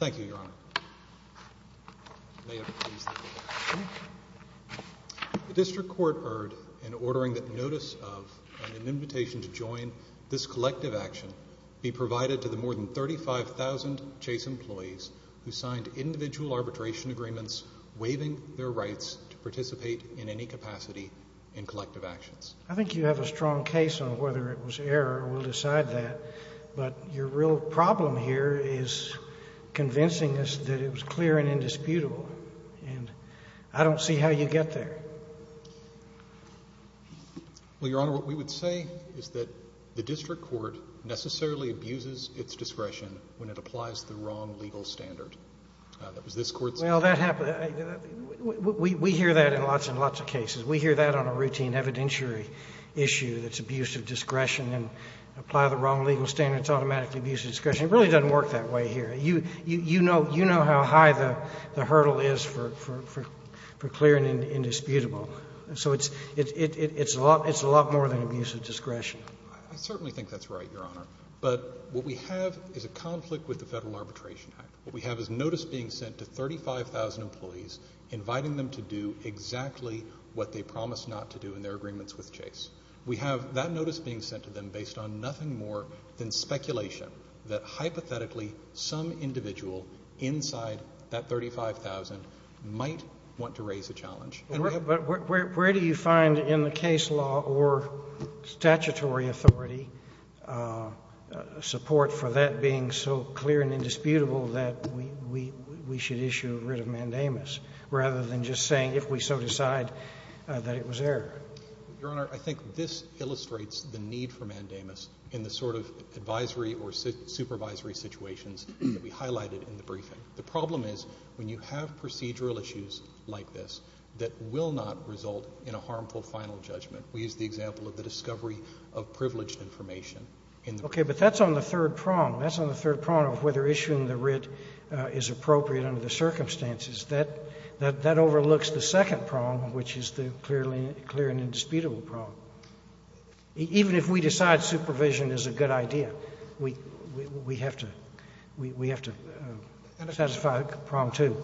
The District Court erred in ordering that notice of, and an invitation to join, this collective action be provided to the more than 35,000 Chase employees who signed individual arbitration agreements waiving their rights to participate in any capacity in collective actions. I think you have a strong case on whether it was error, and we'll decide that, but your real problem here is convincing us that it was clear and indisputable, and I don't see how you get there. Well, Your Honor, what we would say is that the District Court necessarily abuses its discretion when it applies the wrong legal standard. That was this Court's... Well, that happened... We hear that in lots and lots of cases. We hear that on a routine evidentiary issue that's abuse of discretion, and apply the wrong legal standard, it's automatically abuse of discretion. It really doesn't work that way here. You know how high the hurdle is for clear and indisputable, so it's a lot more than abuse of discretion. I certainly think that's right, Your Honor, but what we have is a conflict with the Federal Arbitration Act. What we have is notice being sent to 35,000 employees, inviting them to do exactly what they promised not to do in their agreements with Chase. We have that notice being sent to them based on nothing more than speculation that hypothetically some individual inside that 35,000 might want to raise a challenge. But where do you find in the case law or statutory authority support for that being so clear and indisputable that we should issue writ of mandamus, rather than just saying if we so decide that it was error? Your Honor, I think this illustrates the need for mandamus in the sort of advisory or supervisory situations that we highlighted in the briefing. The problem is when you have procedural issues like this that will not result in a harmful final judgment. We used the example of the discovery of privileged information in the briefing. Okay, but that's on the third prong. That's on the third prong of whether issuing the writ is appropriate under the circumstances. That overlooks the second prong, which is the clear and indisputable prong. Even if we decide supervision is a good idea, we have to satisfy prong two.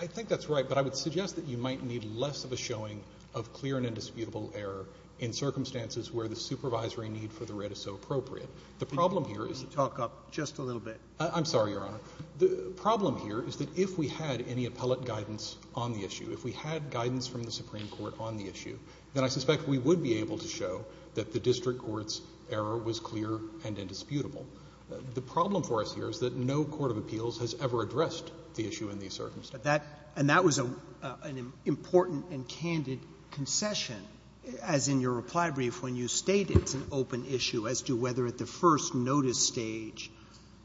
I think that's right, but I would suggest that you might need less of a showing of clear and indisputable error in circumstances where the supervisory need for the writ is so appropriate. on the issue. If we had guidance from the Supreme Court on the issue, then I suspect we would be able to show that the district court's error was clear and indisputable. The problem for us here is that no court of appeals has ever addressed the issue in these circumstances. And that was an important and candid concession, as in your reply brief when you stated it's an open issue as to whether at the first notice stage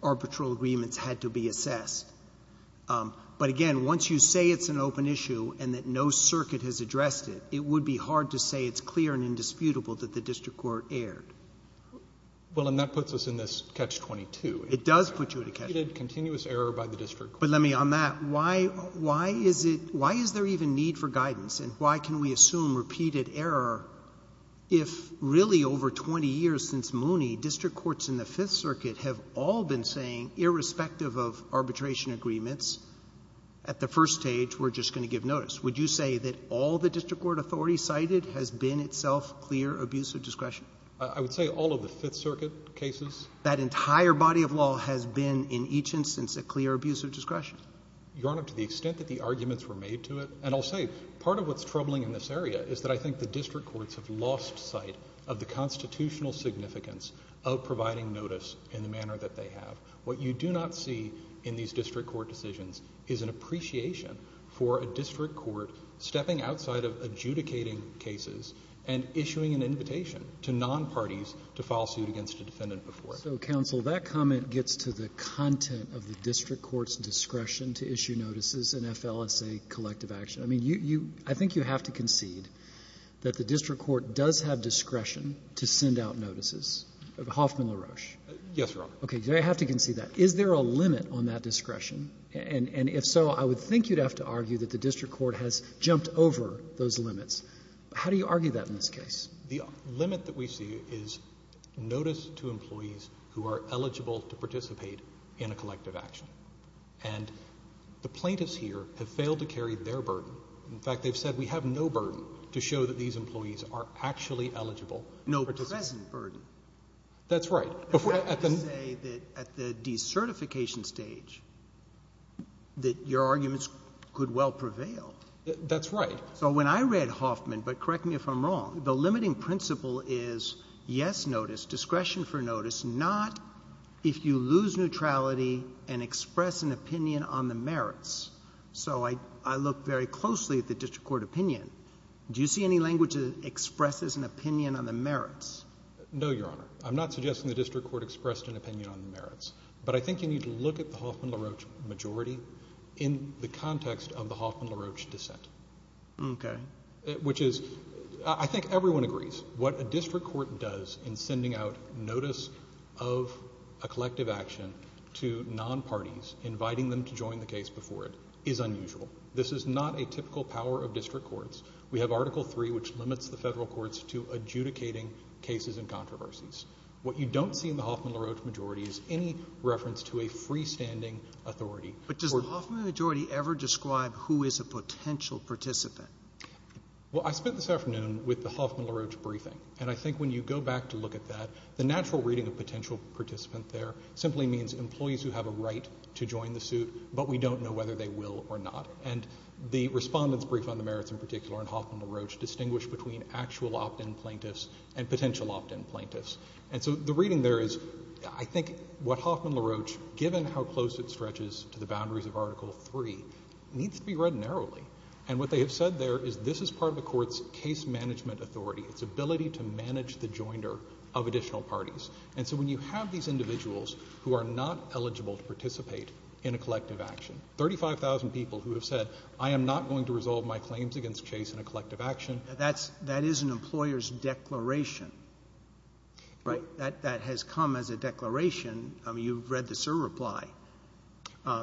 arbitral agreements had to be assessed. But again, once you say it's an open issue and that no circuit has addressed it, it would be hard to say it's clear and indisputable that the district court erred. Well, and that puts us in this catch-22. It does put you in a catch-22. Repeated continuous error by the district court. But let me, on that, why is there even need for guidance, and why can we assume repeated error if really over 20 years since Mooney, district courts in the Fifth Circuit have all been saying, irrespective of arbitration agreements, at the first stage we're just going to give notice. Would you say that all the district court authority cited has been itself clear abuse of discretion? I would say all of the Fifth Circuit cases. That entire body of law has been in each instance a clear abuse of discretion? Your Honor, to the extent that the arguments were made to it, and I'll say part of what's troubling in this area is that I think the district courts have lost sight of the constitutional significance of providing notice in the manner that they have. What you do not see in these district court decisions is an appreciation for a district court stepping outside of adjudicating cases and issuing an invitation to non-parties to file suit against a defendant before. So, counsel, that comment gets to the content of the district court's discretion to issue notices in FLSA collective action. I mean, you, I think you have to concede that the district court does have discretion to send out notices. Hoffman, LaRoche. Yes, Your Honor. Okay. Do I have to concede that? Is there a limit on that discretion? And if so, I would think you'd have to argue that the district court has jumped over those limits. How do you argue that in this case? The limit that we see is notice to employees who are eligible to participate in a collective action. And the plaintiffs here have failed to carry their burden. In fact, they've said we have no burden to show that these employees are actually eligible to participate. No present burden. That's right. At the decertification stage, that your arguments could well prevail. That's right. So when I read Hoffman, but correct me if I'm wrong, the limiting principle is yes notice, discretion for notice, not if you lose neutrality and express an opinion on the merits. So I look very closely at the district court opinion. Do you see any language that expresses an opinion on the merits? No, Your Honor. I'm not suggesting the district court expressed an opinion on the merits. But I think you need to look at the Hoffman-LaRoche majority in the context of the Hoffman-LaRoche dissent. Okay. Which is, I think everyone agrees, what a district court does in sending out notice of a collective action to non-parties, inviting them to join the case before it, is unusual. This is not a typical power of district courts. We have Article III, which limits the federal courts to adjudicating cases and controversies. What you don't see in the Hoffman-LaRoche majority is any reference to a freestanding authority. But does the Hoffman majority ever describe who is a potential participant? Well, I spent this afternoon with the Hoffman-LaRoche briefing. And I think when you go back to look at that, the natural reading of potential participant there simply means employees who have a right to join the suit, but we don't know whether they will or not. And the respondent's brief on the merits in particular in Hoffman-LaRoche distinguished between actual opt-in plaintiffs and potential opt-in plaintiffs. And so the reading there is, I think what Hoffman-LaRoche, given how close it stretches to the boundaries of Article III, needs to be read narrowly. And what they have said there is this is part of the court's case management authority, its ability to manage the joinder of additional parties. And so when you have these individuals who are not eligible to participate in a collective action, 35,000 people who have said, I am not going to resolve my claims against Chase in a collective action. That's, that is an employer's declaration, right? That, that has come as a declaration. I mean, you've read the SIR reply.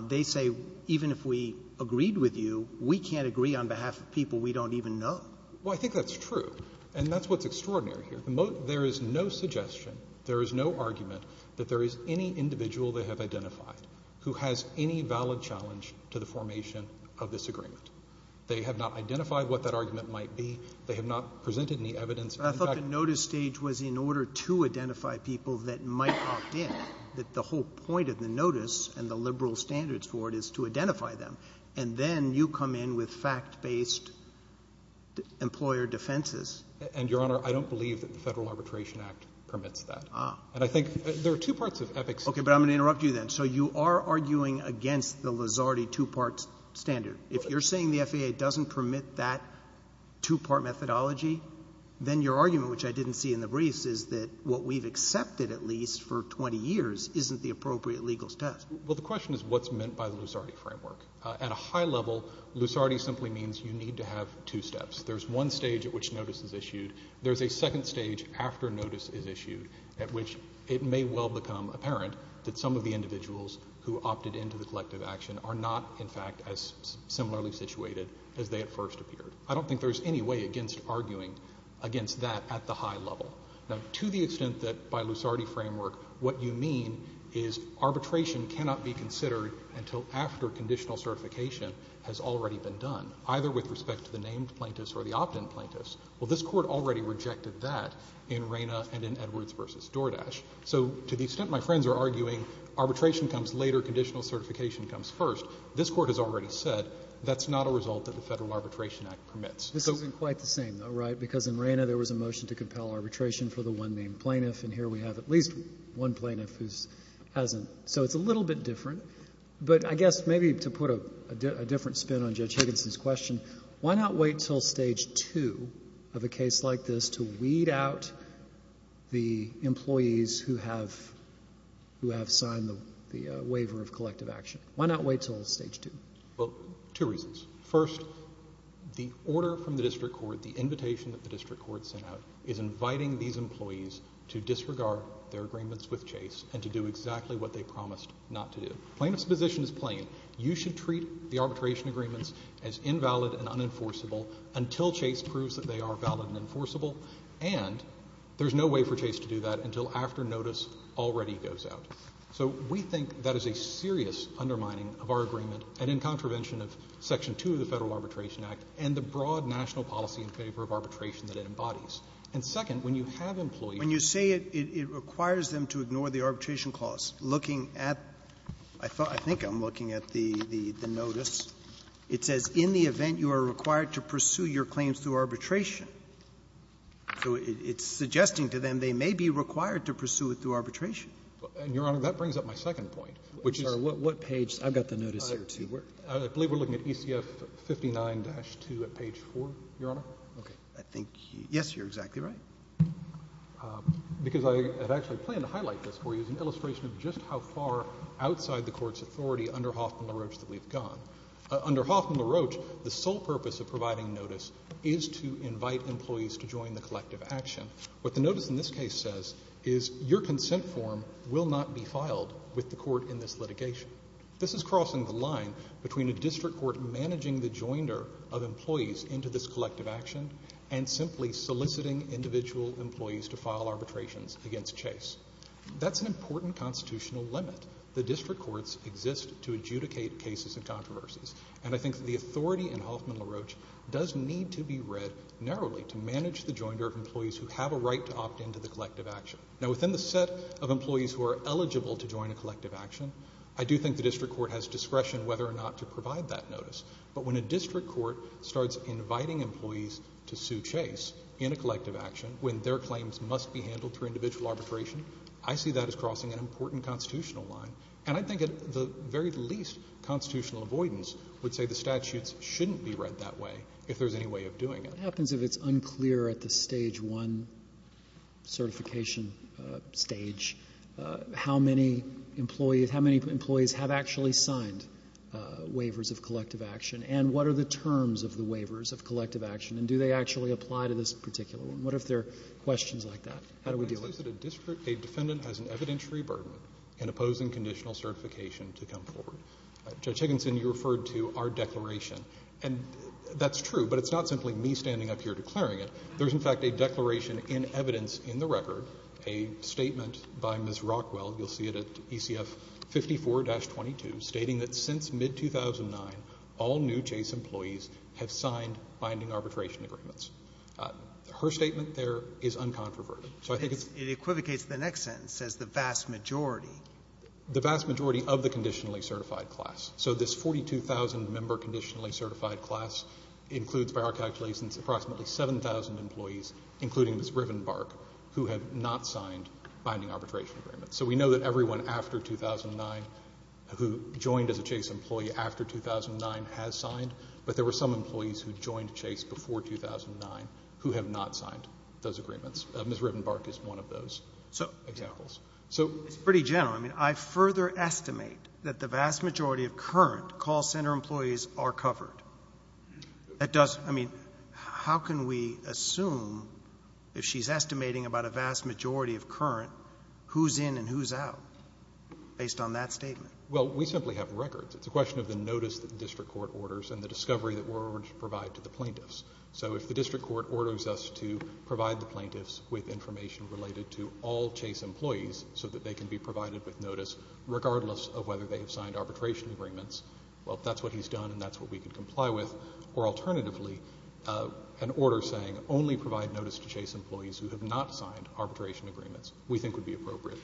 They say, even if we agreed with you, we can't agree on behalf of people we don't even know. Well, I think that's true. And that's what's extraordinary here. There is no suggestion, there is no argument, that there is any individual they have identified who has any valid challenge to the formation of this agreement. They have not identified what that argument might be. They have not presented any evidence. I thought the notice stage was in order to identify people that might opt in. That the whole point of the notice, and the liberal standards for it, is to identify them. And then you come in with fact-based employer defenses. And, Your Honor, I don't believe that the Federal Arbitration Act permits that. Ah. And I think, there are two parts of EPIC's. Okay, but I'm going to interrupt you then. So you are arguing against the Luzardi two-part standard. If you're saying the FAA doesn't permit that two-part methodology, then your argument, which I didn't see in the briefs, is that what we've accepted, at least, for 20 years, isn't the appropriate legal test. Well, the question is, what's meant by the Luzardi framework? At a high level, Luzardi simply means you need to have two steps. There's one stage at which notice is issued. There's a second stage after notice is issued, at which it may well become apparent that some of the individuals who opted into the collective action are not, in fact, as similarly situated as they at first appeared. I don't think there's any way against arguing against that at the high level. Now, to the extent that, by Luzardi framework, what you mean is arbitration cannot be considered until after conditional certification has already been done. Either with respect to the named plaintiffs or the opt-in plaintiffs. Well, this court already rejected that in Reyna and in Edwards versus DoorDash. So, to the extent my friends are arguing, arbitration comes later, conditional certification comes first, this court has already said, that's not a result that the Federal Arbitration Act permits. This isn't quite the same, though, right? Because in Reyna, there was a motion to compel arbitration for the one named plaintiff, and here we have at least one plaintiff who hasn't. So, it's a little bit different. But I guess, maybe to put a different spin on Judge Higginson's question, why not wait until stage two of a case like this to weed out the employees who have signed the waiver of collective action? Why not wait until stage two? Well, two reasons. First, the order from the district court, the invitation that the district court sent out, is inviting these employees to disregard their agreements with Chase and to do exactly what they promised not to do. Plaintiff's position is plain. You should treat the arbitration agreements as invalid and unenforceable until Chase proves that they are valid and enforceable, and there's no way for Chase to do that until after notice already goes out. So, we think that is a serious undermining of our agreement, and in contravention of section 2 of the Federal Arbitration Act and the broad national policy in favor of arbitration that it embodies. Roberts. And then the second part is that the notice, it says, in the event you are required to pursue your claims through arbitration. So it's suggesting to them they may be required to pursue it through arbitration. And, Your Honor, that brings up my second point, which is what page – I've got the notice here, too. I believe we're looking at ECF 59-2 at page 4, Your Honor. Okay. I think – yes, you're exactly right. Because I have actually planned to highlight this for you as an illustration of just how far outside the Court's authority under Hoffman-LaRoche that we've gone. Under Hoffman-LaRoche, the sole purpose of providing notice is to invite employees to join the collective action. What the notice in this case says is your consent form will not be filed with the Court in this litigation. This is crossing the line between a district court managing the joinder of employees into this collective action and simply soliciting individual employees to file arbitrations against Chase. That's an important constitutional limit. The district courts exist to adjudicate cases and controversies. And I think that the authority in Hoffman-LaRoche does need to be read narrowly to manage the joinder of employees who have a right to opt into the collective action. Now, within the set of employees who are eligible to join a collective action, I do think the district court has discretion whether or not to provide that notice. But when a district court starts inviting employees to sue Chase in a collective action when their claims must be handled through individual arbitration, I see that as crossing an important constitutional line. And I think at the very least, constitutional avoidance would say the statutes shouldn't be read that way if there's any way of doing it. What happens if it's unclear at the stage one certification stage how many employees have actually signed waivers of collective action? And what are the terms of the waivers of collective action? And do they actually apply to this particular one? And what if they're questions like that? How do we deal with it? A defendant has an evidentiary burden in opposing conditional certification to come forward. Judge Higginson, you referred to our declaration, and that's true, but it's not simply me standing up here declaring it. There's, in fact, a declaration in evidence in the record, a statement by Ms. Rockwell, you'll see it at ECF 54-22, stating that since mid-2009, all new Chase employees have signed binding arbitration agreements. Her statement there is uncontroverted. So I think it's — It equivocates the next sentence, says the vast majority. The vast majority of the conditionally certified class. So this 42,000-member conditionally certified class includes, by our calculations, approximately 7,000 employees, including Ms. Rivenbark, who have not signed binding arbitration agreements. So we know that everyone after 2009 who joined as a Chase employee after 2009 has signed, but there were some employees who joined Chase before 2009 who have not signed those agreements. Ms. Rivenbark is one of those examples. So — It's pretty general. I mean, I further estimate that the vast majority of current call center employees are covered. That does — I mean, how can we assume, if she's estimating about a vast majority of current, who's in and who's out, based on that statement? Well, we simply have records. It's a question of the notice that the district court orders and the discovery that we're going to provide to the plaintiffs. So if the district court orders us to provide the plaintiffs with information related to all Chase employees so that they can be provided with notice, regardless of whether they have signed arbitration agreements, well, if that's what he's done and that's what we can comply with, or alternatively, an order saying only provide notice to Chase employees who have not signed arbitration agreements, we think would be appropriate.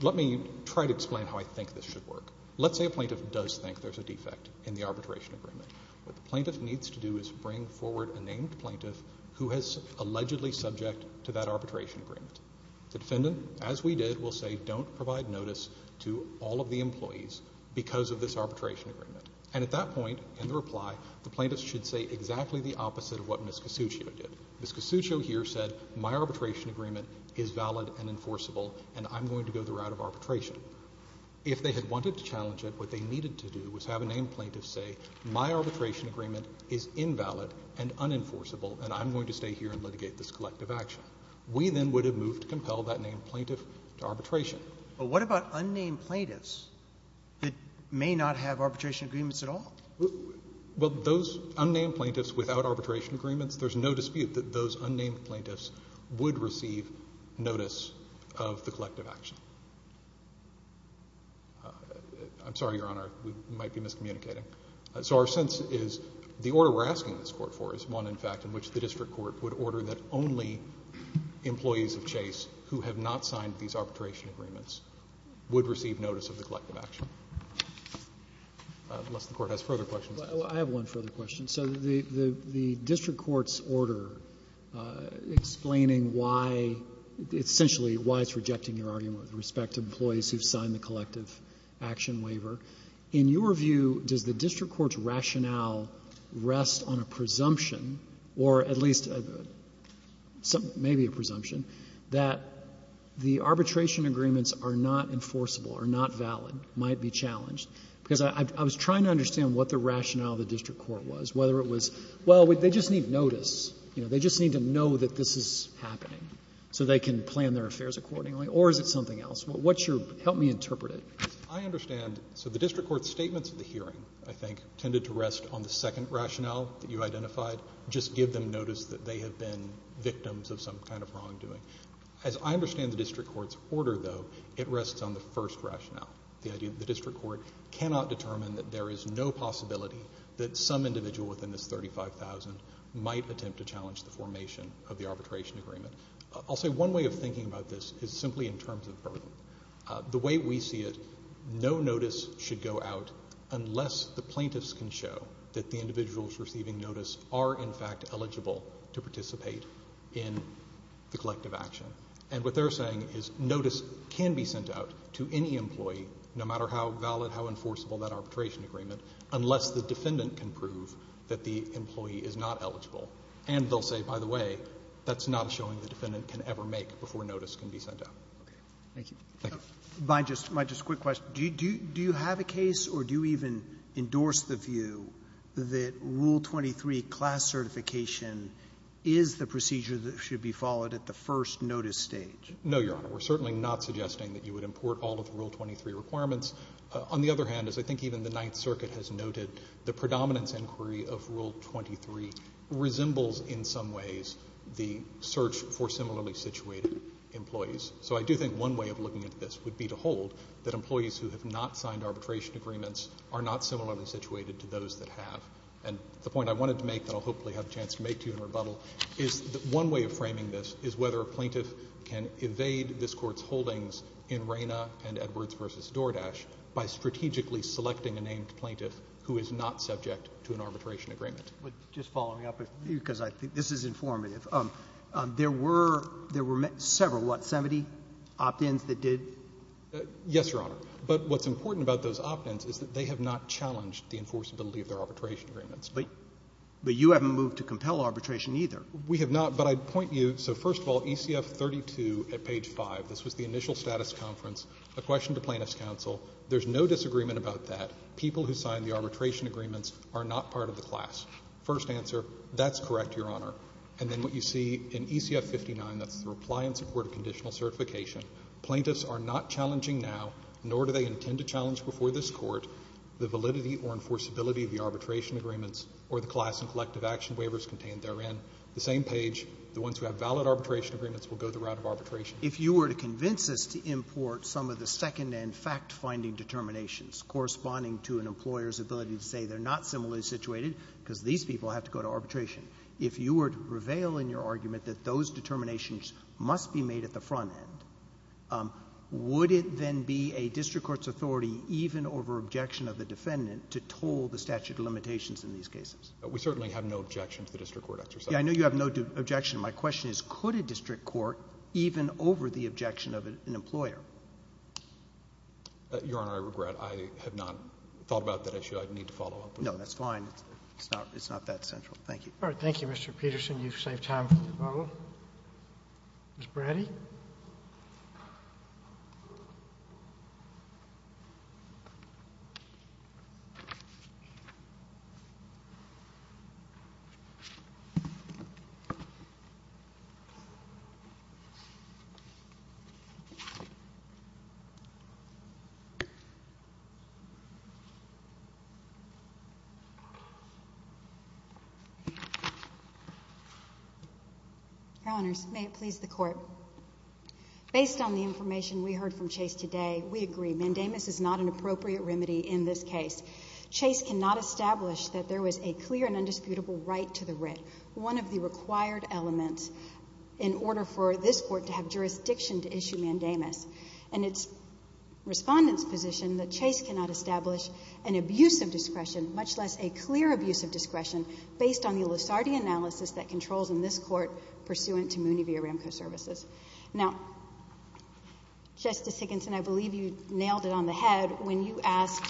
Let me try to explain how I think this should work. Let's say a plaintiff does think there's a defect in the arbitration agreement. What the plaintiff needs to do is bring forward a named plaintiff who is allegedly subject to that arbitration agreement. The defendant, as we did, will say, don't provide notice to all of the employees because of this arbitration agreement. And at that point, in the reply, the plaintiffs should say exactly the opposite of what Ms. Casuccio did. Ms. Casuccio here said, my arbitration agreement is valid and enforceable, and I'm going to go the route of arbitration. If they had wanted to challenge it, what they needed to do was have a named plaintiff say, my arbitration agreement is invalid and unenforceable, and I'm going to stay here and litigate this collective action. We then would have moved to compel that named plaintiff to arbitration. But what about unnamed plaintiffs that may not have arbitration agreements at all? Well, those unnamed plaintiffs without arbitration agreements, there's no dispute that those unnamed plaintiffs would receive notice of the collective action. I'm sorry, Your Honor, we might be miscommunicating. So our sense is the order we're asking this Court for is one, in fact, in which the district court would order that only employees of Chase who have not signed these arbitration agreements would receive notice of the collective action, unless the Court has further questions. I have one further question. So the district court's order explaining why, essentially, why it's rejecting your argument with respect to employees who have signed the collective action waiver, in your view, does the district court's rationale rest on a presumption, or at least maybe a presumption, that the arbitration agreements are not enforceable, are not valid, might be challenged? Because I was trying to understand what the rationale of the district court was, whether it was, well, they just need notice, you know, they just need to know that this is happening so they can plan their affairs accordingly, or is it something else? What's your, help me interpret it. I understand, so the district court's statements at the hearing, I think, tended to rest on the second rationale that you identified, just give them notice that they have been victims of some kind of wrongdoing. As I understand the district court's order, though, it rests on the first rationale, the idea that the district court cannot determine that there is no possibility that some individual within this 35,000 might attempt to challenge the formation of the arbitration agreement. I'll say one way of thinking about this is simply in terms of burden. The way we see it, no notice should go out unless the plaintiffs can show that the individuals receiving notice are, in fact, eligible to participate in the collective action. And what they're saying is notice can be sent out to any employee, no matter how valid, how enforceable that arbitration agreement, unless the defendant can prove that the employee is not eligible. And they'll say, by the way, that's not a showing the defendant can ever make before notice can be sent out. Thank you. Thank you. By just a quick question, do you have a case or do you even endorse the view that Rule 23 class certification is the procedure that should be followed at the first notice stage? No, Your Honor. We're certainly not suggesting that you would import all of Rule 23 requirements. On the other hand, as I think even the Ninth Circuit has noted, the predominance inquiry of Rule 23 resembles in some ways the search for similarly situated employees. So I do think one way of looking at this would be to hold that employees who have not signed arbitration agreements are not similarly situated to those that have. And the point I wanted to make that I'll hopefully have a chance to make to you in rebuttal is that one way of framing this is whether a plaintiff can evade this court's holdings in Reyna and Edwards v. DoorDash by strategically selecting a named plaintiff who is not subject to an arbitration agreement. But just following up, because I think this is informative, there were several what, 70 opt-ins that did? Yes, Your Honor. But what's important about those opt-ins is that they have not challenged the enforceability of their arbitration agreements. But you haven't moved to compel arbitration either. We have not. But I'd point you, so first of all, ECF 32 at page 5, this was the initial status conference, a question to Plaintiff's counsel. There's no disagreement about that. People who signed the arbitration agreements are not part of the class. First answer, that's correct, Your Honor. And then what you see in ECF 59, that's the reply in support of conditional certification, plaintiffs are not challenging now, nor do they intend to challenge before this Court the validity or enforceability of the arbitration agreements or the class and collective action waivers contained therein. The same page, the ones who have valid arbitration agreements will go the route of arbitration. If you were to convince us to import some of the second-end fact-finding determinations corresponding to an employer's ability to say they're not similarly situated because these people have to go to arbitration, if you were to prevail in your argument that those determinations must be made at the front end, would it then be a district court's authority, even over objection of the defendant, to toll the statute of limitations in these cases? We certainly have no objection to the district court exercise. Yes, I know you have no objection. My question is, could a district court, even over the objection of an employer? Your Honor, I regret I have not thought about that issue. I'd need to follow up with you. No, that's fine. It's not that central. Thank you. All right. Thank you, Mr. Peterson. You've saved time for the follow-up. Ms. Braddy? Your Honors, may it please the Court. Based on the information we heard from Chase today, we agree. Mandamus is not an appropriate remedy in this case. Chase cannot establish that there was a clear and undisputable right to the writ, one of the required elements, in order for this Court to have jurisdiction to issue Mandamus, and it's Respondent's position that Chase cannot establish an abuse of discretion, much less a clear abuse of discretion, based on the Lusardi analysis that controls in this Court, pursuant to Mooney v. Aramco Services. Now, Justice Higginson, I believe you nailed it on the head when you asked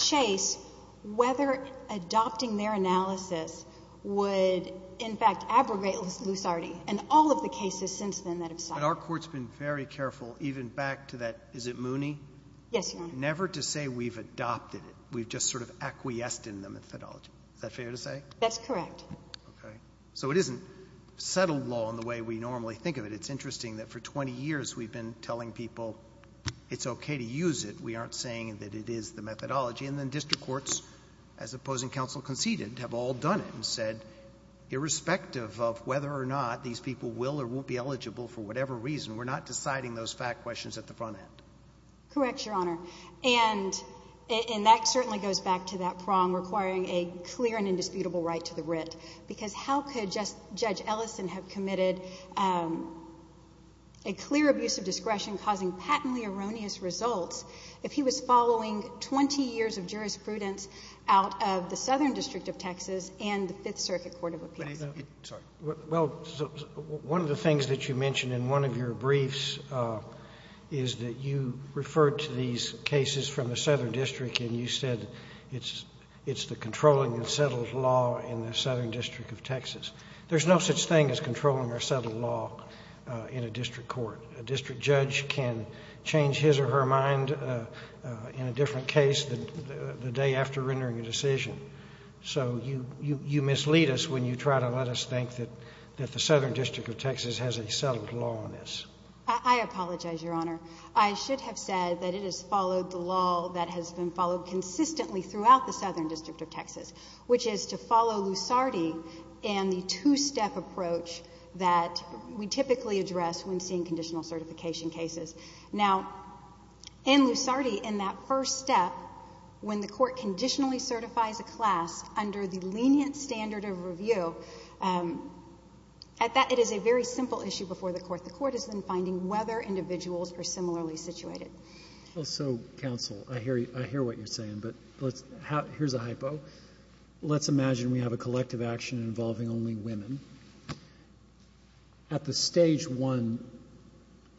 Chase whether adopting their analysis would, in fact, abrogate Lusardi, and all of the cases since then that have stopped. But our Court's been very careful, even back to that, is it Mooney? Yes, Your Honor. Never to say we've adopted it. We've just sort of acquiesced in the methodology. Is that fair to say? That's correct. Okay. So it isn't settled law in the way we normally think of it. It's interesting that for 20 years we've been telling people it's okay to use it. We aren't saying that it is the methodology. And then district courts, as opposing counsel conceded, have all done it and said, irrespective of whether or not these people will or won't be eligible for whatever reason, we're not deciding those fact questions at the front end. Correct, Your Honor. And that certainly goes back to that prong requiring a clear and indisputable right to the writ, because how could just Judge Ellison have committed a clear abuse of discretion causing patently erroneous results if he was following 20 years of jurisprudence out of the Southern District of Texas and the Fifth Circuit Court of Appeals? Well, one of the things that you mentioned in one of your briefs is that you referred to these cases from the Southern District and you said it's the controlling and settled law in the Southern District of Texas. There's no such thing as controlling or settled law in a district court. A district judge can change his or her mind in a different case the day after rendering a decision. So you mislead us when you try to let us think that the Southern District of Texas has a settled law on this. I apologize, Your Honor. I should have said that it has followed the law that has been followed consistently throughout the Southern District of Texas, which is to follow Lusardi and the two-step approach that we typically address when seeing conditional certification cases. Now, in Lusardi, in that first step, when the court conditionally certifies a class under the lenient standard of review, at that, it is a very simple issue before the court. The court is then finding whether individuals are similarly situated. Well, so, counsel, I hear what you're saying, but let's, here's a hypo. Let's imagine we have a collective action involving only women. At the stage one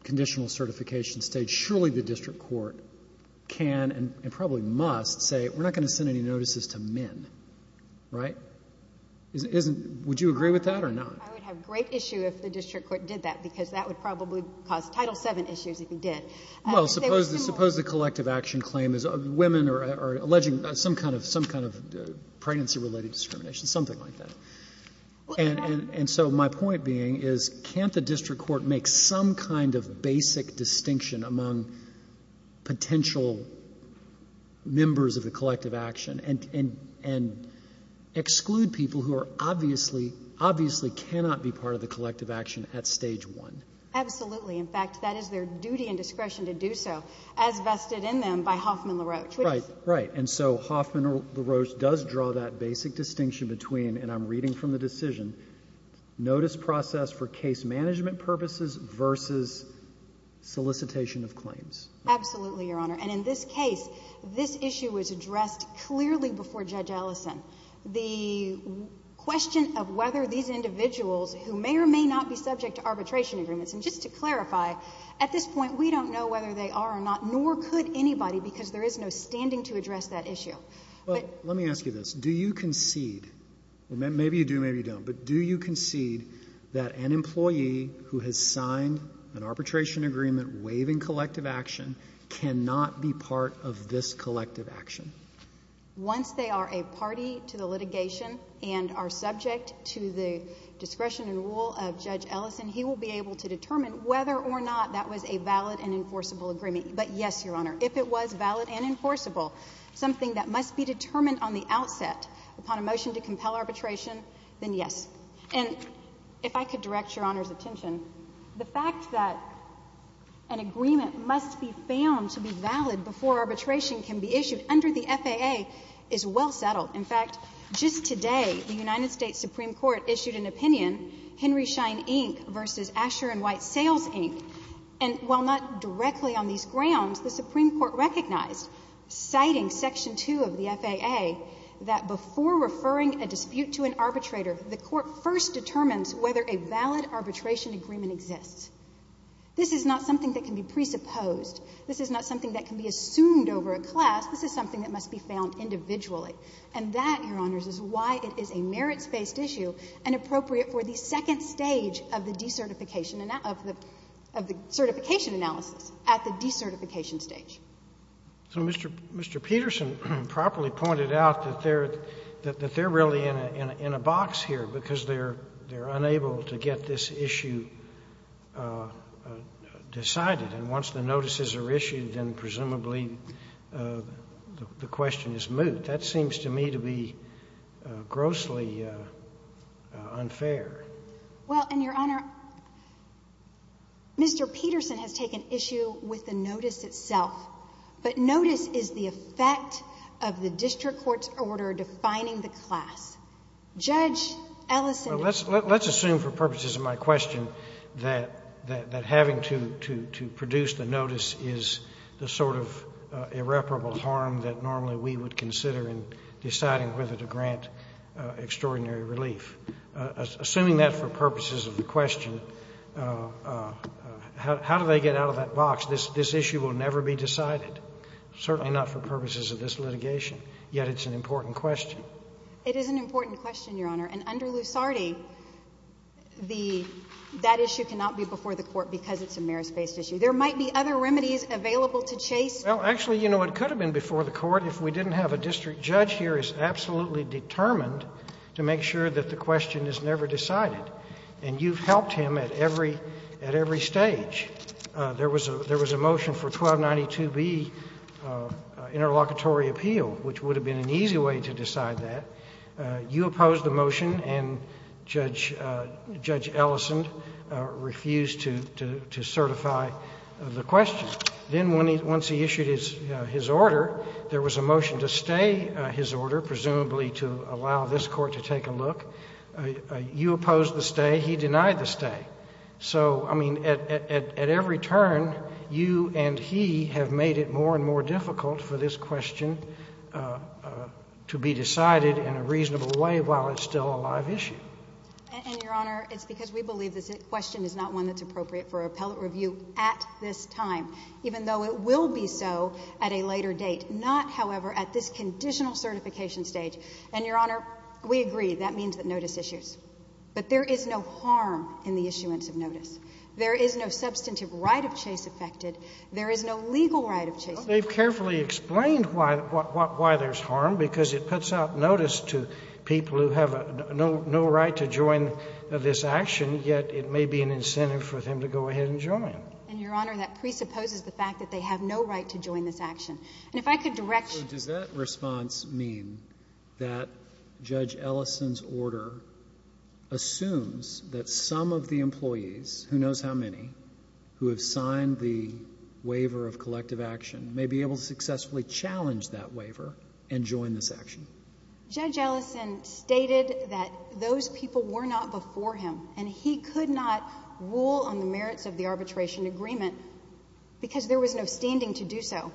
conditional certification stage, surely the district court can and probably must say, we're not going to send any notices to men, right? Would you agree with that or not? I would have great issue if the district court did that because that would probably cause Title VII issues if it did. Well, suppose the collective action claim is women are alleging some kind of pregnancy-related discrimination, something like that. And so my point being is, can't the district court make some kind of basic distinction among potential members of the collective action and exclude people who are obviously, obviously cannot be part of the collective action at stage one? Absolutely. In fact, that is their duty and discretion to do so as vested in them by Hoffman LaRoche. Right. Right. And so Hoffman LaRoche does draw that basic distinction between, and I'm reading from the decision, notice process for case management purposes versus solicitation of claims. Absolutely, Your Honor. And in this case, this issue was addressed clearly before Judge Ellison. The question of whether these individuals who may or may not be subject to arbitration agreements. And just to clarify, at this point, we don't know whether they are or not, nor could anybody because there is no standing to address that issue. But let me ask you this. Do you concede, maybe you do, maybe you don't, but do you concede that an employee who has signed an arbitration agreement waiving collective action cannot be part of this collective action? Once they are a party to the litigation and are subject to the discretion and rule of law, are they able to determine whether or not that was a valid and enforceable agreement? But yes, Your Honor. If it was valid and enforceable, something that must be determined on the outset upon a motion to compel arbitration, then yes. And if I could direct Your Honor's attention, the fact that an agreement must be found to be valid before arbitration can be issued under the FAA is well settled. In fact, just today, the United States Supreme Court issued an opinion, Henry Schein Inc. v. Asher & White Sales, Inc., and while not directly on these grounds, the Supreme Court recognized, citing Section 2 of the FAA, that before referring a dispute to an arbitrator, the court first determines whether a valid arbitration agreement exists. This is not something that can be presupposed. This is not something that can be assumed over a class. This is something that must be found individually. And that, Your Honors, is why it is a merits-based issue and appropriate for the second stage of the decertification analysis, at the decertification stage. So Mr. Peterson properly pointed out that they're really in a box here because they're unable to get this issue decided. And once the notices are issued, then presumably the question is moot. That seems to me to be grossly unfair. Well, and, Your Honor, Mr. Peterson has taken issue with the notice itself. But notice is the effect of the district court's order defining the class. Judge Ellison is going to say that. Well, let's assume, for purposes of my question, that having to produce the notice is the sort of irreparable harm that normally we would consider in deciding whether to grant extraordinary relief. Assuming that for purposes of the question, how do they get out of that box? This issue will never be decided, certainly not for purposes of this litigation. Yet it's an important question. It is an important question, Your Honor. And under Lusardi, the — that issue cannot be before the Court because it's a merits-based issue. There might be other remedies available to chase. Well, actually, you know, it could have been before the Court if we didn't have a district judge here is absolutely determined to make sure that the question is never decided. And you've helped him at every — at every stage. There was a — there was a motion for 1292B, interlocutory appeal, which would have been an easy way to decide that. You opposed the motion, and Judge Ellison refused to certify the question. Then once he issued his order, there was a motion to stay his order, presumably to allow this Court to take a look. You opposed the stay. He denied the stay. So, I mean, at every turn, you and he have made it more and more difficult for this question to be decided in a reasonable way while it's still a live issue. And, Your Honor, it's because we believe this question is not one that's appropriate for appellate review at this time, even though it will be so at a later date, not, however, at this conditional certification stage. And, Your Honor, we agree. That means that notice issues. But there is no harm in the issuance of notice. There is no substantive right of chase affected. There is no legal right of chase affected. They've carefully explained why there's harm, because it puts out notice to people who have no right to join this action, yet it may be an incentive for them to go ahead and join. And, Your Honor, that presupposes the fact that they have no right to join this action. And if I could direct you— So, does that response mean that Judge Ellison's order assumes that some of the employees, who knows how many, who have signed the waiver of collective action may be able to successfully challenge that waiver and join this action? Judge Ellison stated that those people were not before him, and he could not rule on the merits of the arbitration agreement, because there was no standing to do so.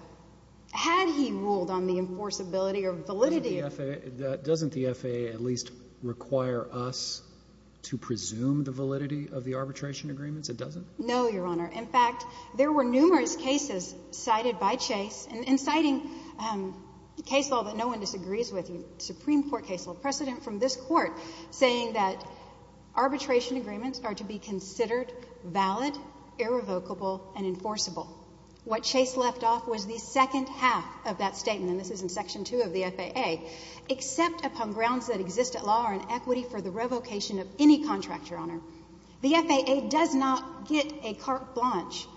Had he ruled on the enforceability or validity— Doesn't the FAA at least require us to presume the validity of the arbitration agreements? It doesn't? No, Your Honor. In fact, there were numerous cases cited by chase, and in citing case law that no one disagrees with, Supreme Court case law precedent from this Court, saying that arbitration agreements are to be considered valid, irrevocable, and enforceable. What chase left off was the second half of that statement, and this is in Section 2 of the FAA, except upon grounds that exist at law and equity for the revocation of any contract, Your Honor. The FAA does not get a carte blanche,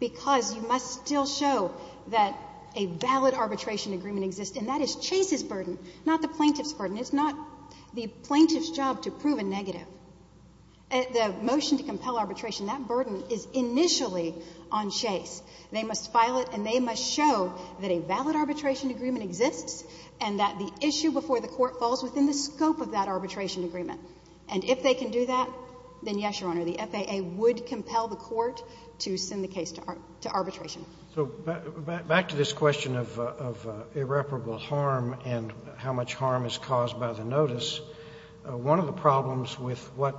because you must still show that a valid arbitration agreement exists, and that is chase's burden, not the plaintiff's burden. It's not the plaintiff's job to prove a negative. The motion to compel arbitration, that burden is initially on chase. They must file it, and they must show that a valid arbitration agreement exists and that the issue before the Court falls within the scope of that arbitration agreement. And if they can do that, then yes, Your Honor, the FAA would compel the Court to send the case to arbitration. So back to this question of irreparable harm and how much harm is caused by the notice. One of the problems with what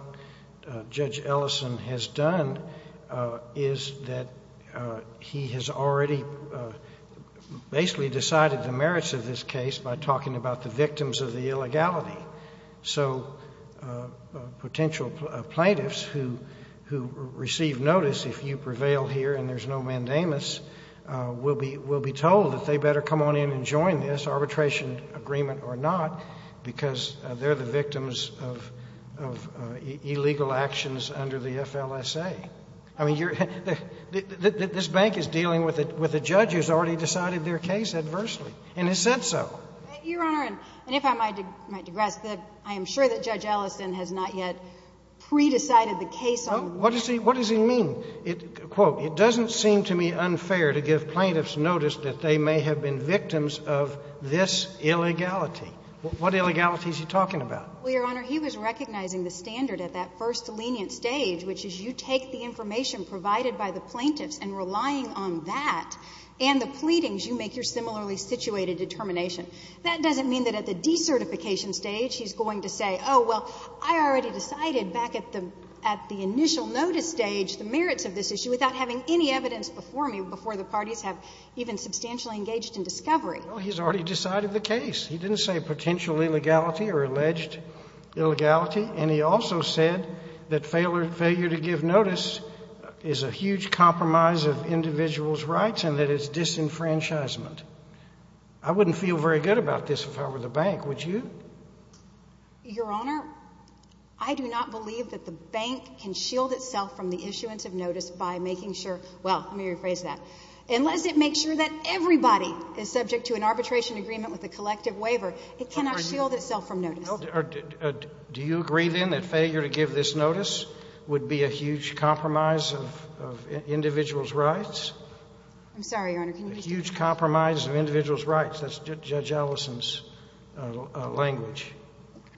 Judge Ellison has done is that he has already basically decided the merits of this case by talking about the victims of the illegality. So potential plaintiffs who receive notice, if you prevail here and there's no mandamus, will be told that they better come on in and join this arbitration agreement or not, because they're the victims of illegal actions under the FLSA. I mean, this Bank is dealing with a judge who has already decided their case adversely, and has said so. Your Honor, and if I might digress, I am sure that Judge Ellison has not yet pre-decided the case on the ground. What does he mean? Quote, it doesn't seem to me unfair to give plaintiffs notice that they may have been victims of this illegality. What illegality is he talking about? Well, Your Honor, he was recognizing the standard at that first lenient stage, which is you take the information provided by the plaintiffs and relying on that and the pleadings, you make your similarly situated determination. That doesn't mean that at the decertification stage he's going to say, oh, well, I already decided back at the initial notice stage the merits of this issue without having any evidence before me, before the parties have even substantially engaged in discovery. Well, he's already decided the case. He didn't say potential illegality or alleged illegality. And he also said that failure to give notice is a huge compromise of individual's rights and that it's disenfranchisement. I wouldn't feel very good about this if I were the Bank. Would you? Your Honor, I do not believe that the Bank can shield itself from the issuance of notice by making sure, well, let me rephrase that. Unless it makes sure that everybody is subject to an arbitration agreement with a collective waiver, it cannot shield itself from notice. Do you agree, then, that failure to give this notice would be a huge compromise of individual's rights? I'm sorry, Your Honor, can you repeat that? A huge compromise of individual's rights. That's Judge Ellison's language.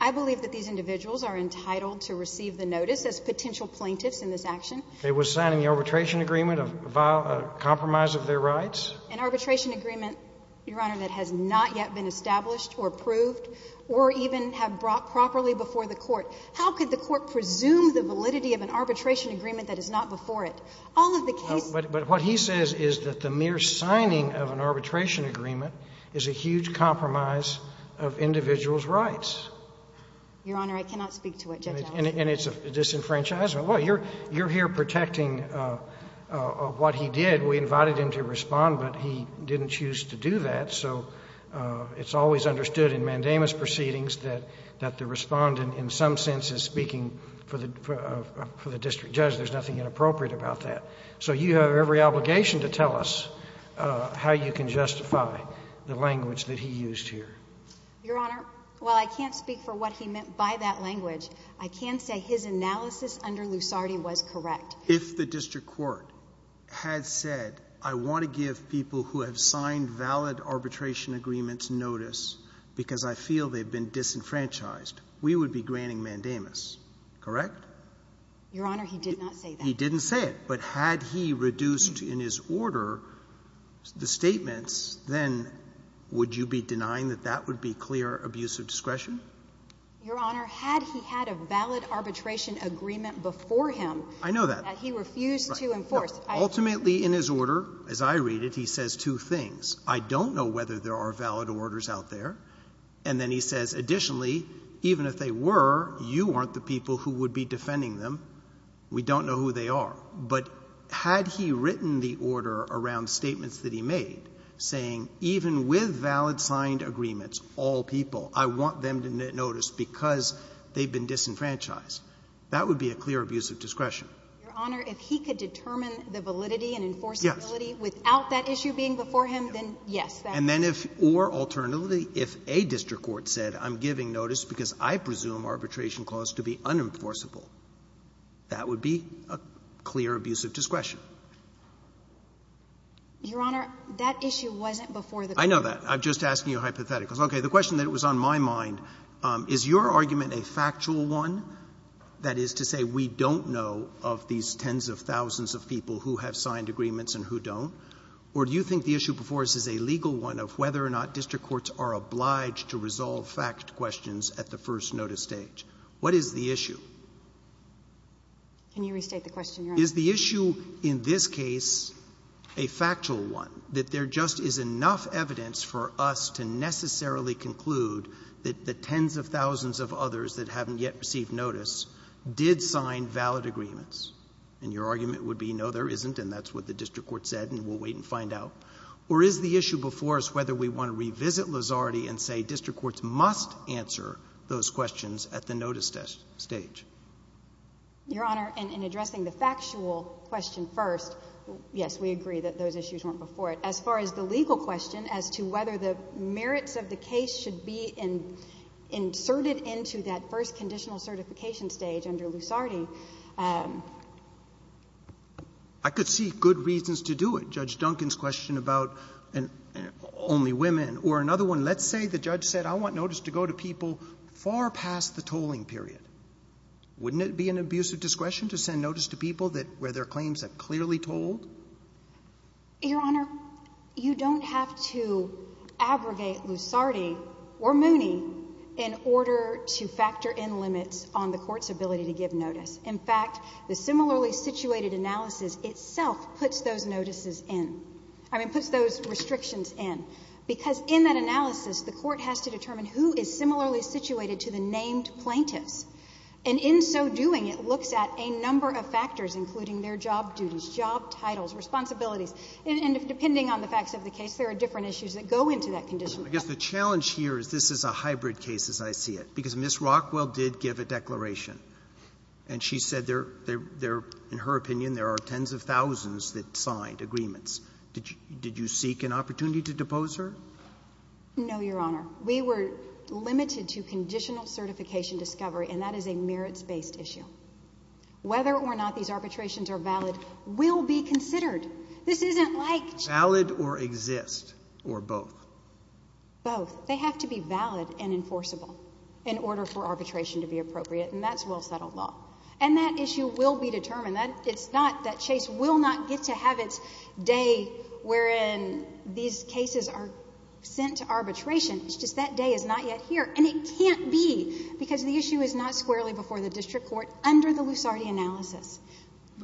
I believe that these individuals are entitled to receive the notice as potential plaintiffs in this action. It was signing the arbitration agreement, a compromise of their rights. An arbitration agreement, Your Honor, that has not yet been established or approved or even have brought properly before the Court. How could the Court presume the validity of an arbitration agreement that is not before it? All of the cases But what he says is that the mere signing of an arbitration agreement is a huge compromise of individual's rights. Your Honor, I cannot speak to what Judge Ellison said. And it's a disenfranchisement. Well, you're here protecting what he did. We invited him to respond, but he didn't choose to do that. So it's always understood in mandamus proceedings that the Respondent in some sense is speaking for the district judge. There's nothing inappropriate about that. So you have every obligation to tell us how you can justify the language that he used here. Your Honor, while I can't speak for what he meant by that language, I can say his analysis under Lusardi was correct. If the district court had said, I want to give people who have signed valid arbitration agreements notice because I feel they've been disenfranchised, we would be granting mandamus, correct? Your Honor, he did not say that. He didn't say it. But had he reduced in his order the statements, then would you be denying that that would be clear abuse of discretion? Your Honor, had he had a valid arbitration agreement before him that he refused to enforce. Ultimately, in his order, as I read it, he says two things. I don't know whether there are valid orders out there. And then he says, additionally, even if they were, you weren't the people who would be defending them. We don't know who they are. But had he written the order around statements that he made, saying even with valid signed agreements, all people, I want them to get notice because they've been disenfranchised, that would be a clear abuse of discretion. Your Honor, if he could determine the validity and enforceability without that issue being before him, then yes, that's true. And then if, or alternatively, if a district court said I'm giving notice because I presume arbitration clause to be unenforceable, that would be a clear abuse of discretion. Your Honor, that issue wasn't before the court. I know that. I'm just asking you a hypothetical. Okay. The question that was on my mind, is your argument a factual one? That is to say we don't know of these tens of thousands of people who have signed agreements and who don't? Or do you think the issue before us is a legal one of whether or not district courts are obliged to resolve fact questions at the first notice stage? What is the issue? Can you restate the question, Your Honor? Is the issue in this case a factual one? That there just is enough evidence for us to necessarily conclude that the tens of thousands of others that haven't yet received notice did sign valid agreements? And your argument would be no, there isn't, and that's what the district court said, and we'll wait and find out. Or is the issue before us whether we want to revisit Lusardi and say district courts must answer those questions at the notice stage? Your Honor, in addressing the factual question first, yes, we agree that those issues weren't before it. As far as the legal question as to whether the merits of the case should be inserted into that first conditional certification stage under Lusardi, I could see good reasons to do it. Judge Duncan's question about only women. Or another one, let's say the judge said I want notice to go to people far past the tolling period. Wouldn't it be an abuse of discretion to send notice to people where their claims are clearly tolled? Your Honor, you don't have to abrogate Lusardi or Mooney in order to factor in limits on the court's ability to give notice. In fact, the similarly situated analysis itself puts those notices in, I mean, puts those restrictions in, because in that analysis, the court has to determine who is similarly situated to the named plaintiffs. And in so doing, it looks at a number of factors, including their job duties, job titles, responsibilities. And depending on the facts of the case, there are different issues that go into that conditional. I guess the challenge here is this is a hybrid case, as I see it, because Ms. Rockwell did give a declaration. And she said there are, in her opinion, there are tens of thousands that signed agreements. Did you seek an opportunity to depose her? No, Your Honor. We were limited to conditional certification discovery, and that is a merits-based issue. Whether or not these arbitrations are valid will be considered. This isn't like just — Valid or exist, or both? Both. They have to be valid and enforceable in order for arbitration to be appropriate, and that's well-settled law. And that issue will be determined. It's not that Chase will not get to have its day wherein these cases are sent to arbitration. It's just that day is not yet here. And it can't be, because the issue is not squarely before the district court under the Lusardi analysis.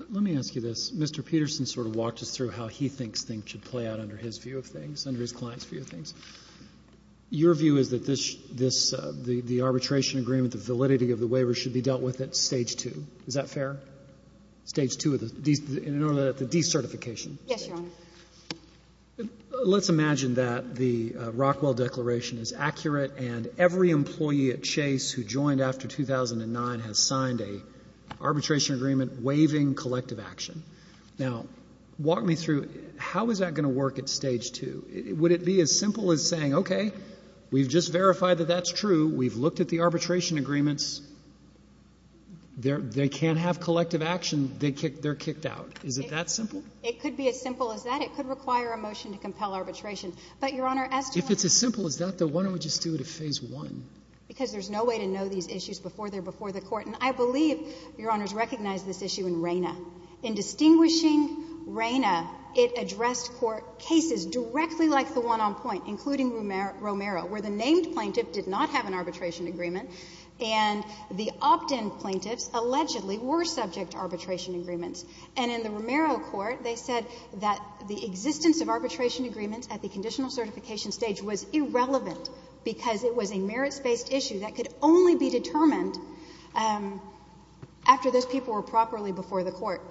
Let me ask you this. Mr. Peterson sort of walked us through how he thinks things should play out under his view of things, under his client's view of things. Your view is that this — the arbitration agreement, the validity of the waiver, should be dealt with at Stage 2. Is that fair? Stage 2 of the — in order to get the decertification? Yes, Your Honor. Let's imagine that the Rockwell Declaration is accurate, and every employee at Chase who joined after 2009 has signed an arbitration agreement waiving collective action. Now, walk me through, how is that going to work at Stage 2? Would it be as simple as saying, okay, we've just verified that that's true, we've looked at the arbitration agreements, they can't have collective action, they're kicked out? Is it that simple? It could be as simple as that. It could require a motion to compel arbitration. But, Your Honor, as to — If it's as simple as that, then why don't we just do it at Phase 1? Because there's no way to know these issues before they're before the court. And I believe, Your Honors, recognize this issue in RANA. In distinguishing RANA, it addressed court cases directly like the one on point, including Romero, where the named plaintiff did not have an arbitration agreement, and the opt-in plaintiffs allegedly were subject to arbitration agreements. And in the Romero court, they said that the existence of arbitration agreements at the conditional certification stage was irrelevant because it was a merits-based issue that could only be determined after those people were properly before the court.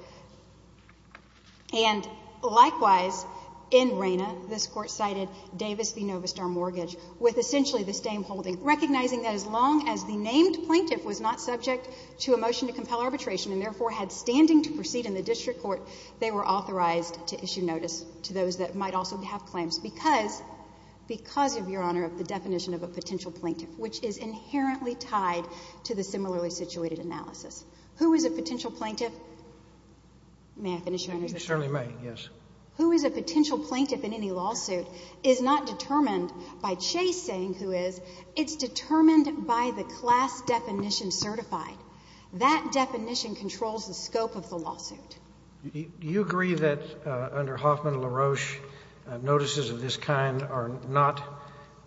And, likewise, in RANA, this court cited Davis v. Novistar Mortgage with essentially the same holding, recognizing that as long as the named plaintiff was not subject to a motion to compel arbitration and, therefore, had standing to proceed in the district court, they were authorized to issue notice to those that might also have claims because — because, Your Honor, of the definition of a potential plaintiff, which is inherently tied to the similarly situated analysis. Who is a potential plaintiff? May I finish, Your Honor? You certainly may, yes. Who is a potential plaintiff in any lawsuit is not determined by Chase saying who is. It's determined by the class definition certified. That definition controls the scope of the lawsuit. Do you agree that under Hoffman and LaRoche, notices of this kind are not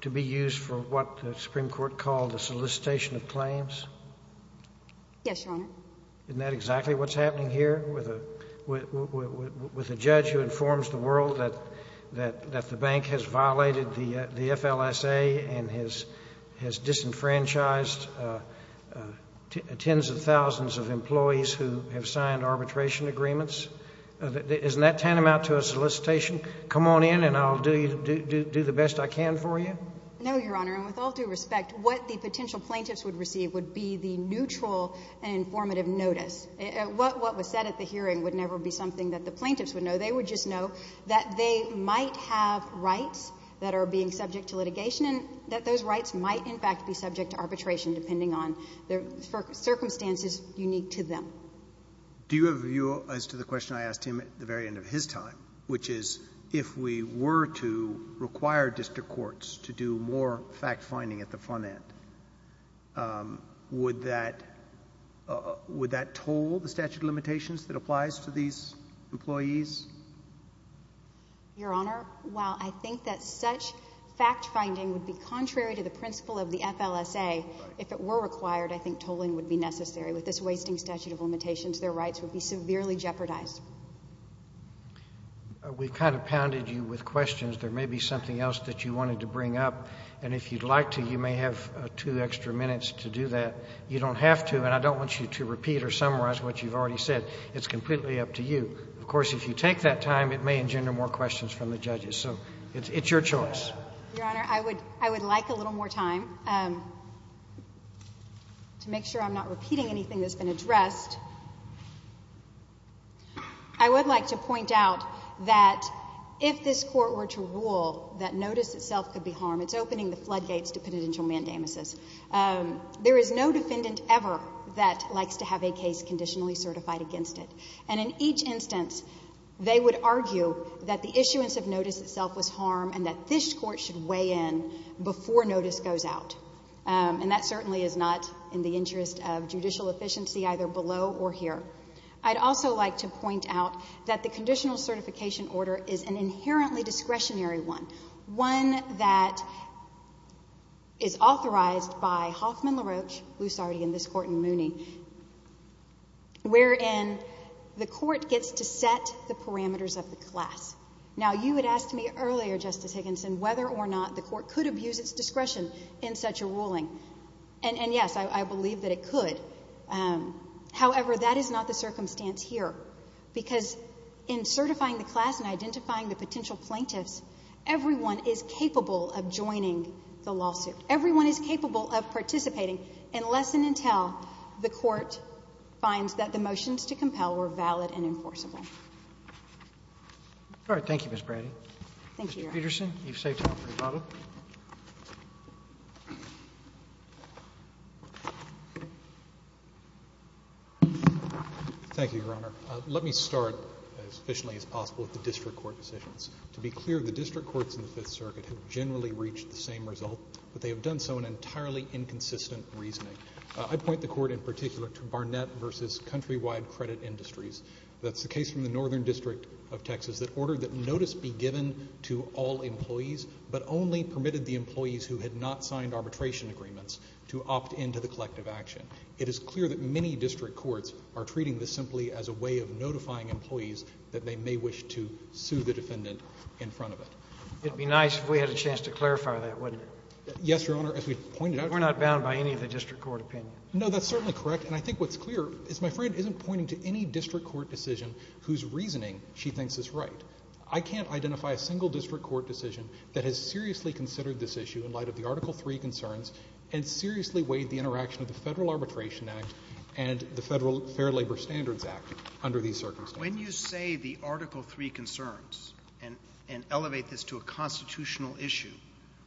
to be used for what the Supreme Court called a solicitation of claims? Yes, Your Honor. Isn't that exactly what's happening here with a — with a judge who informs the world that — that the bank has violated the FLSA and has disenfranchised tens of thousands of employees who have signed arbitration agreements? Isn't that tantamount to a solicitation? Come on in and I'll do the best I can for you? No, Your Honor. And with all due respect, what the potential plaintiffs would receive would be the neutral and informative notice. What was said at the hearing would never be something that the plaintiffs would know. They would just know that they might have rights that are being subject to litigation and that those rights might, in fact, be subject to arbitration depending on the circumstances unique to them. Do you have a view as to the question I asked him at the very end of his time, which is, if we were to require district courts to do more fact-finding at the front end, would that — would that toll the statute of limitations that applies to these employees? Your Honor, while I think that such fact-finding would be contrary to the principle of the FLSA, if it were required, I think tolling would be necessary. With this wasting statute of limitations, their rights would be severely jeopardized. We've kind of pounded you with questions. There may be something else that you wanted to bring up. And if you'd like to, you may have two extra minutes to do that. You don't have to, and I don't want you to repeat or summarize what you've already said. It's completely up to you. Of course, if you take that time, it may engender more questions from the judges. So it's your choice. Your Honor, I would — I would like a little more time to make sure I'm not repeating anything that's been addressed. I would like to point out that if this Court were to rule that notice itself could be harmed, it's opening the floodgates to penitential mandamuses. There is no defendant ever that likes to have a case conditionally certified against it. And in each instance, they would argue that the issuance of notice itself was harmed and that this Court should weigh in before notice goes out. And that certainly is not in the interest of judicial efficiency either below or here. I'd also like to point out that the conditional certification order is an inherently discretionary one. One that is authorized by Hoffman, LaRoche, Lusardi, and this Court in Mooney, wherein the Court gets to set the parameters of the class. Now, you had asked me earlier, Justice Higginson, whether or not the Court could abuse its discretion in such a ruling. And yes, I believe that it could. However, that is not the circumstance here, because in certifying the class and identifying the potential plaintiffs, everyone is capable of joining the lawsuit. Everyone is capable of participating. And lesson in tell, the Court finds that the motions to compel were valid and enforceable. Roberts. Thank you, Ms. Brady. Thank you, Your Honor. Mr. Peterson, you've saved time for your bottle. Thank you, Your Honor. Let me start as efficiently as possible with the district court decisions. To be clear, the district courts in the Fifth Circuit have generally reached the same result, but they have done so in entirely inconsistent reasoning. I point the Court in particular to Barnett v. Countrywide Credit Industries. That's the case from the Northern District of Texas that ordered that notice be given to all employees, but only permitted the employees who had not signed arbitration agreements to opt into the collective action. It is clear that many district courts are treating this simply as a way of notifying employees that they may wish to sue the defendant in front of it. It'd be nice if we had a chance to clarify that, wouldn't it? Yes, Your Honor. As we've pointed out. We're not bound by any of the district court opinion. No, that's certainly correct. And I think what's clear is my friend isn't pointing to any district court decision whose reasoning she thinks is right. I can't identify a single district court decision that has seriously considered this issue in light of the Article III concerns and seriously weighed the interaction of the Federal Arbitration Act and the Federal Fair Labor Standards Act under these circumstances. When you say the Article III concerns and elevate this to a constitutional issue,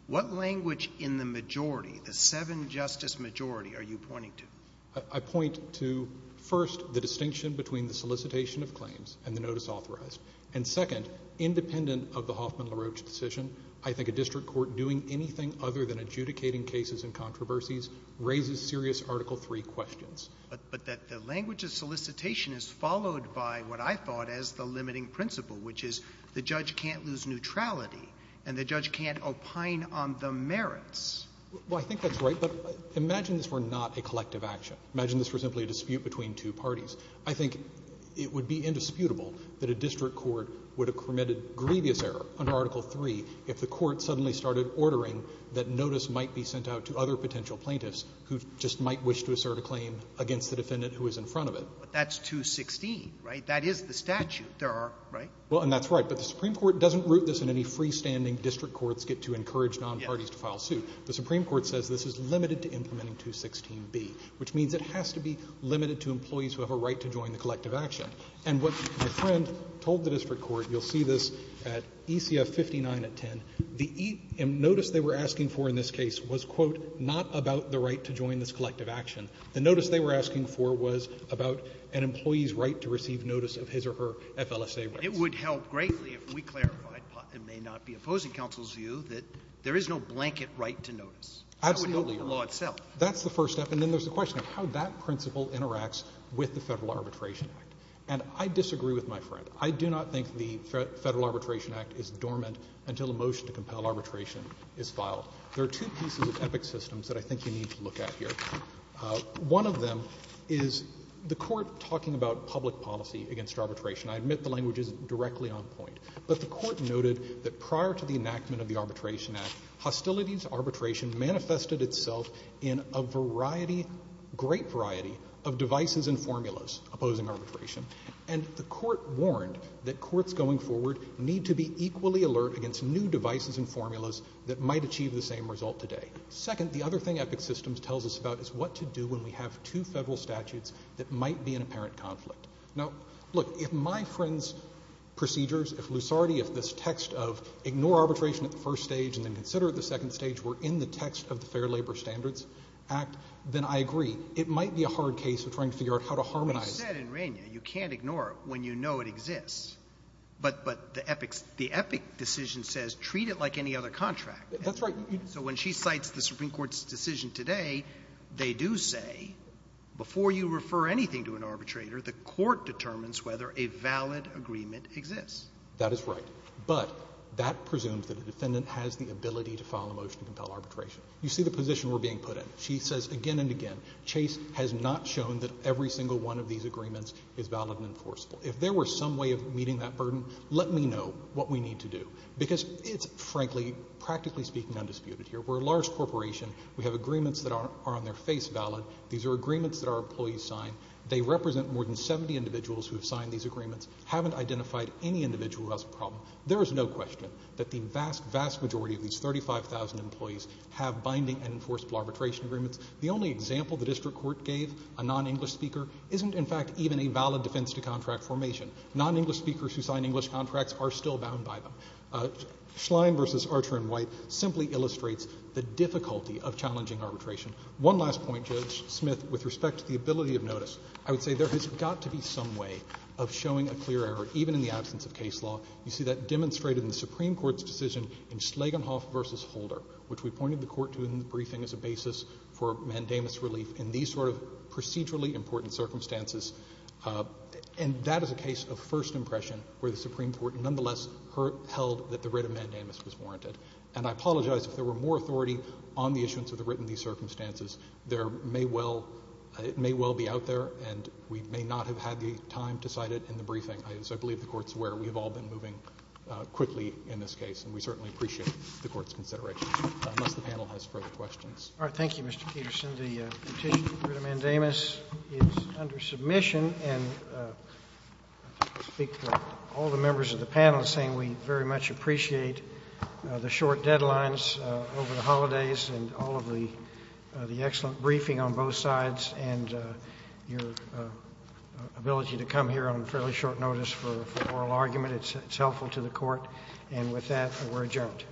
what language in the majority, the seven-justice majority, are you pointing to? I point to, first, the distinction between the solicitation of claims and the notice authorized, and, second, independent of the Hoffman-LaRoche decision, I think a district court doing anything other than adjudicating cases and controversies raises serious Article III questions. But that the language of solicitation is followed by what I thought as the limiting principle, which is the judge can't lose neutrality and the judge can't opine on the merits. Well, I think that's right. But imagine this were not a collective action. Imagine this were simply a dispute between two parties. I think it would be indisputable that a district court would have committed grievous error under Article III if the court suddenly started ordering that notice might be sent out to other potential plaintiffs who just might wish to assert a claim against the defendant who is in front of it. But that's 216, right? That is the statute. There are, right? Well, and that's right. But the Supreme Court doesn't root this in any freestanding district courts get to encourage nonparties to file suit. The Supreme Court says this is limited to implementing 216B, which means it has to be limited to employees who have a right to join the collective action. And what your friend told the district court, you'll see this at ECF 59 at 10, the notice they were asking for in this case was, quote, not about the right to join this collective action. The notice they were asking for was about an employee's right to receive notice of his or her FLSA rights. It would help greatly if we clarified, it may not be opposing counsel's view, that there is no blanket right to notice. Absolutely. That would help the law itself. That's the first step. And then there's the question of how that principle interacts with the Federal Arbitration Act. And I disagree with my friend. I do not think the Federal Arbitration Act is dormant until a motion to compel arbitration is filed. There are two pieces of epic systems that I think you need to look at here. One of them is the Court talking about public policy against arbitration. I admit the language is directly on point. But the Court noted that prior to the enactment of the Arbitration Act, hostilities arbitration manifested itself in a variety, great variety of devices and formulas opposing arbitration. And the Court warned that courts going forward need to be equally alert against new devices and formulas that might achieve the same result today. Second, the other thing epic systems tells us about is what to do when we have two Federal statutes that might be in apparent conflict. Now, look, if my friend's procedures, if Lusardi, if this text of ignore arbitration at the first stage and then consider it at the second stage were in the text of the Fair Labor Standards Act, then I agree. It might be a hard case of trying to figure out how to harmonize. You said in Regna you can't ignore it when you know it exists. But the epic decision says treat it like any other contract. That's right. So when she cites the Supreme Court's decision today, they do say before you refer anything to an arbitrator, the Court determines whether a valid agreement exists. That is right. But that presumes that the defendant has the ability to file a motion to compel arbitration. You see the position we're being put in. She says again and again, Chase has not shown that every single one of these agreements is valid and enforceable. If there were some way of meeting that burden, let me know what we need to do. Because it's frankly, practically speaking, undisputed here. We're a large corporation. We have agreements that are on their face valid. These are agreements that our employees sign. They represent more than 70 individuals who have signed these agreements, haven't identified any individual who has a problem. There is no question that the vast, vast majority of these 35,000 employees have signed these binding and enforceable arbitration agreements. The only example the district court gave, a non-English speaker, isn't in fact even a valid defense to contract formation. Non-English speakers who sign English contracts are still bound by them. Schlein v. Archer and White simply illustrates the difficulty of challenging arbitration. One last point, Judge Smith, with respect to the ability of notice. I would say there has got to be some way of showing a clear error, even in the absence of case law. You see that demonstrated in the Supreme Court's decision in Schlegelhoff v. Holder, which we pointed the Court to in the briefing as a basis for mandamus relief in these sort of procedurally important circumstances. And that is a case of first impression where the Supreme Court nonetheless held that the writ of mandamus was warranted. And I apologize if there were more authority on the issuance of the writ in these circumstances. There may well be out there, and we may not have had the time to cite it in the briefing. As I believe the Court's aware, we have all been moving quickly in this case, and we certainly appreciate the Court's consideration, unless the panel has further questions. All right. Thank you, Mr. Peterson. The petition for the writ of mandamus is under submission, and I think I'll speak for all the members of the panel in saying we very much appreciate the short deadlines over the holidays and all of the excellent briefing on both sides and your ability to come here on fairly short notice for oral argument. It's helpful to the Court. And with that, we're adjourned.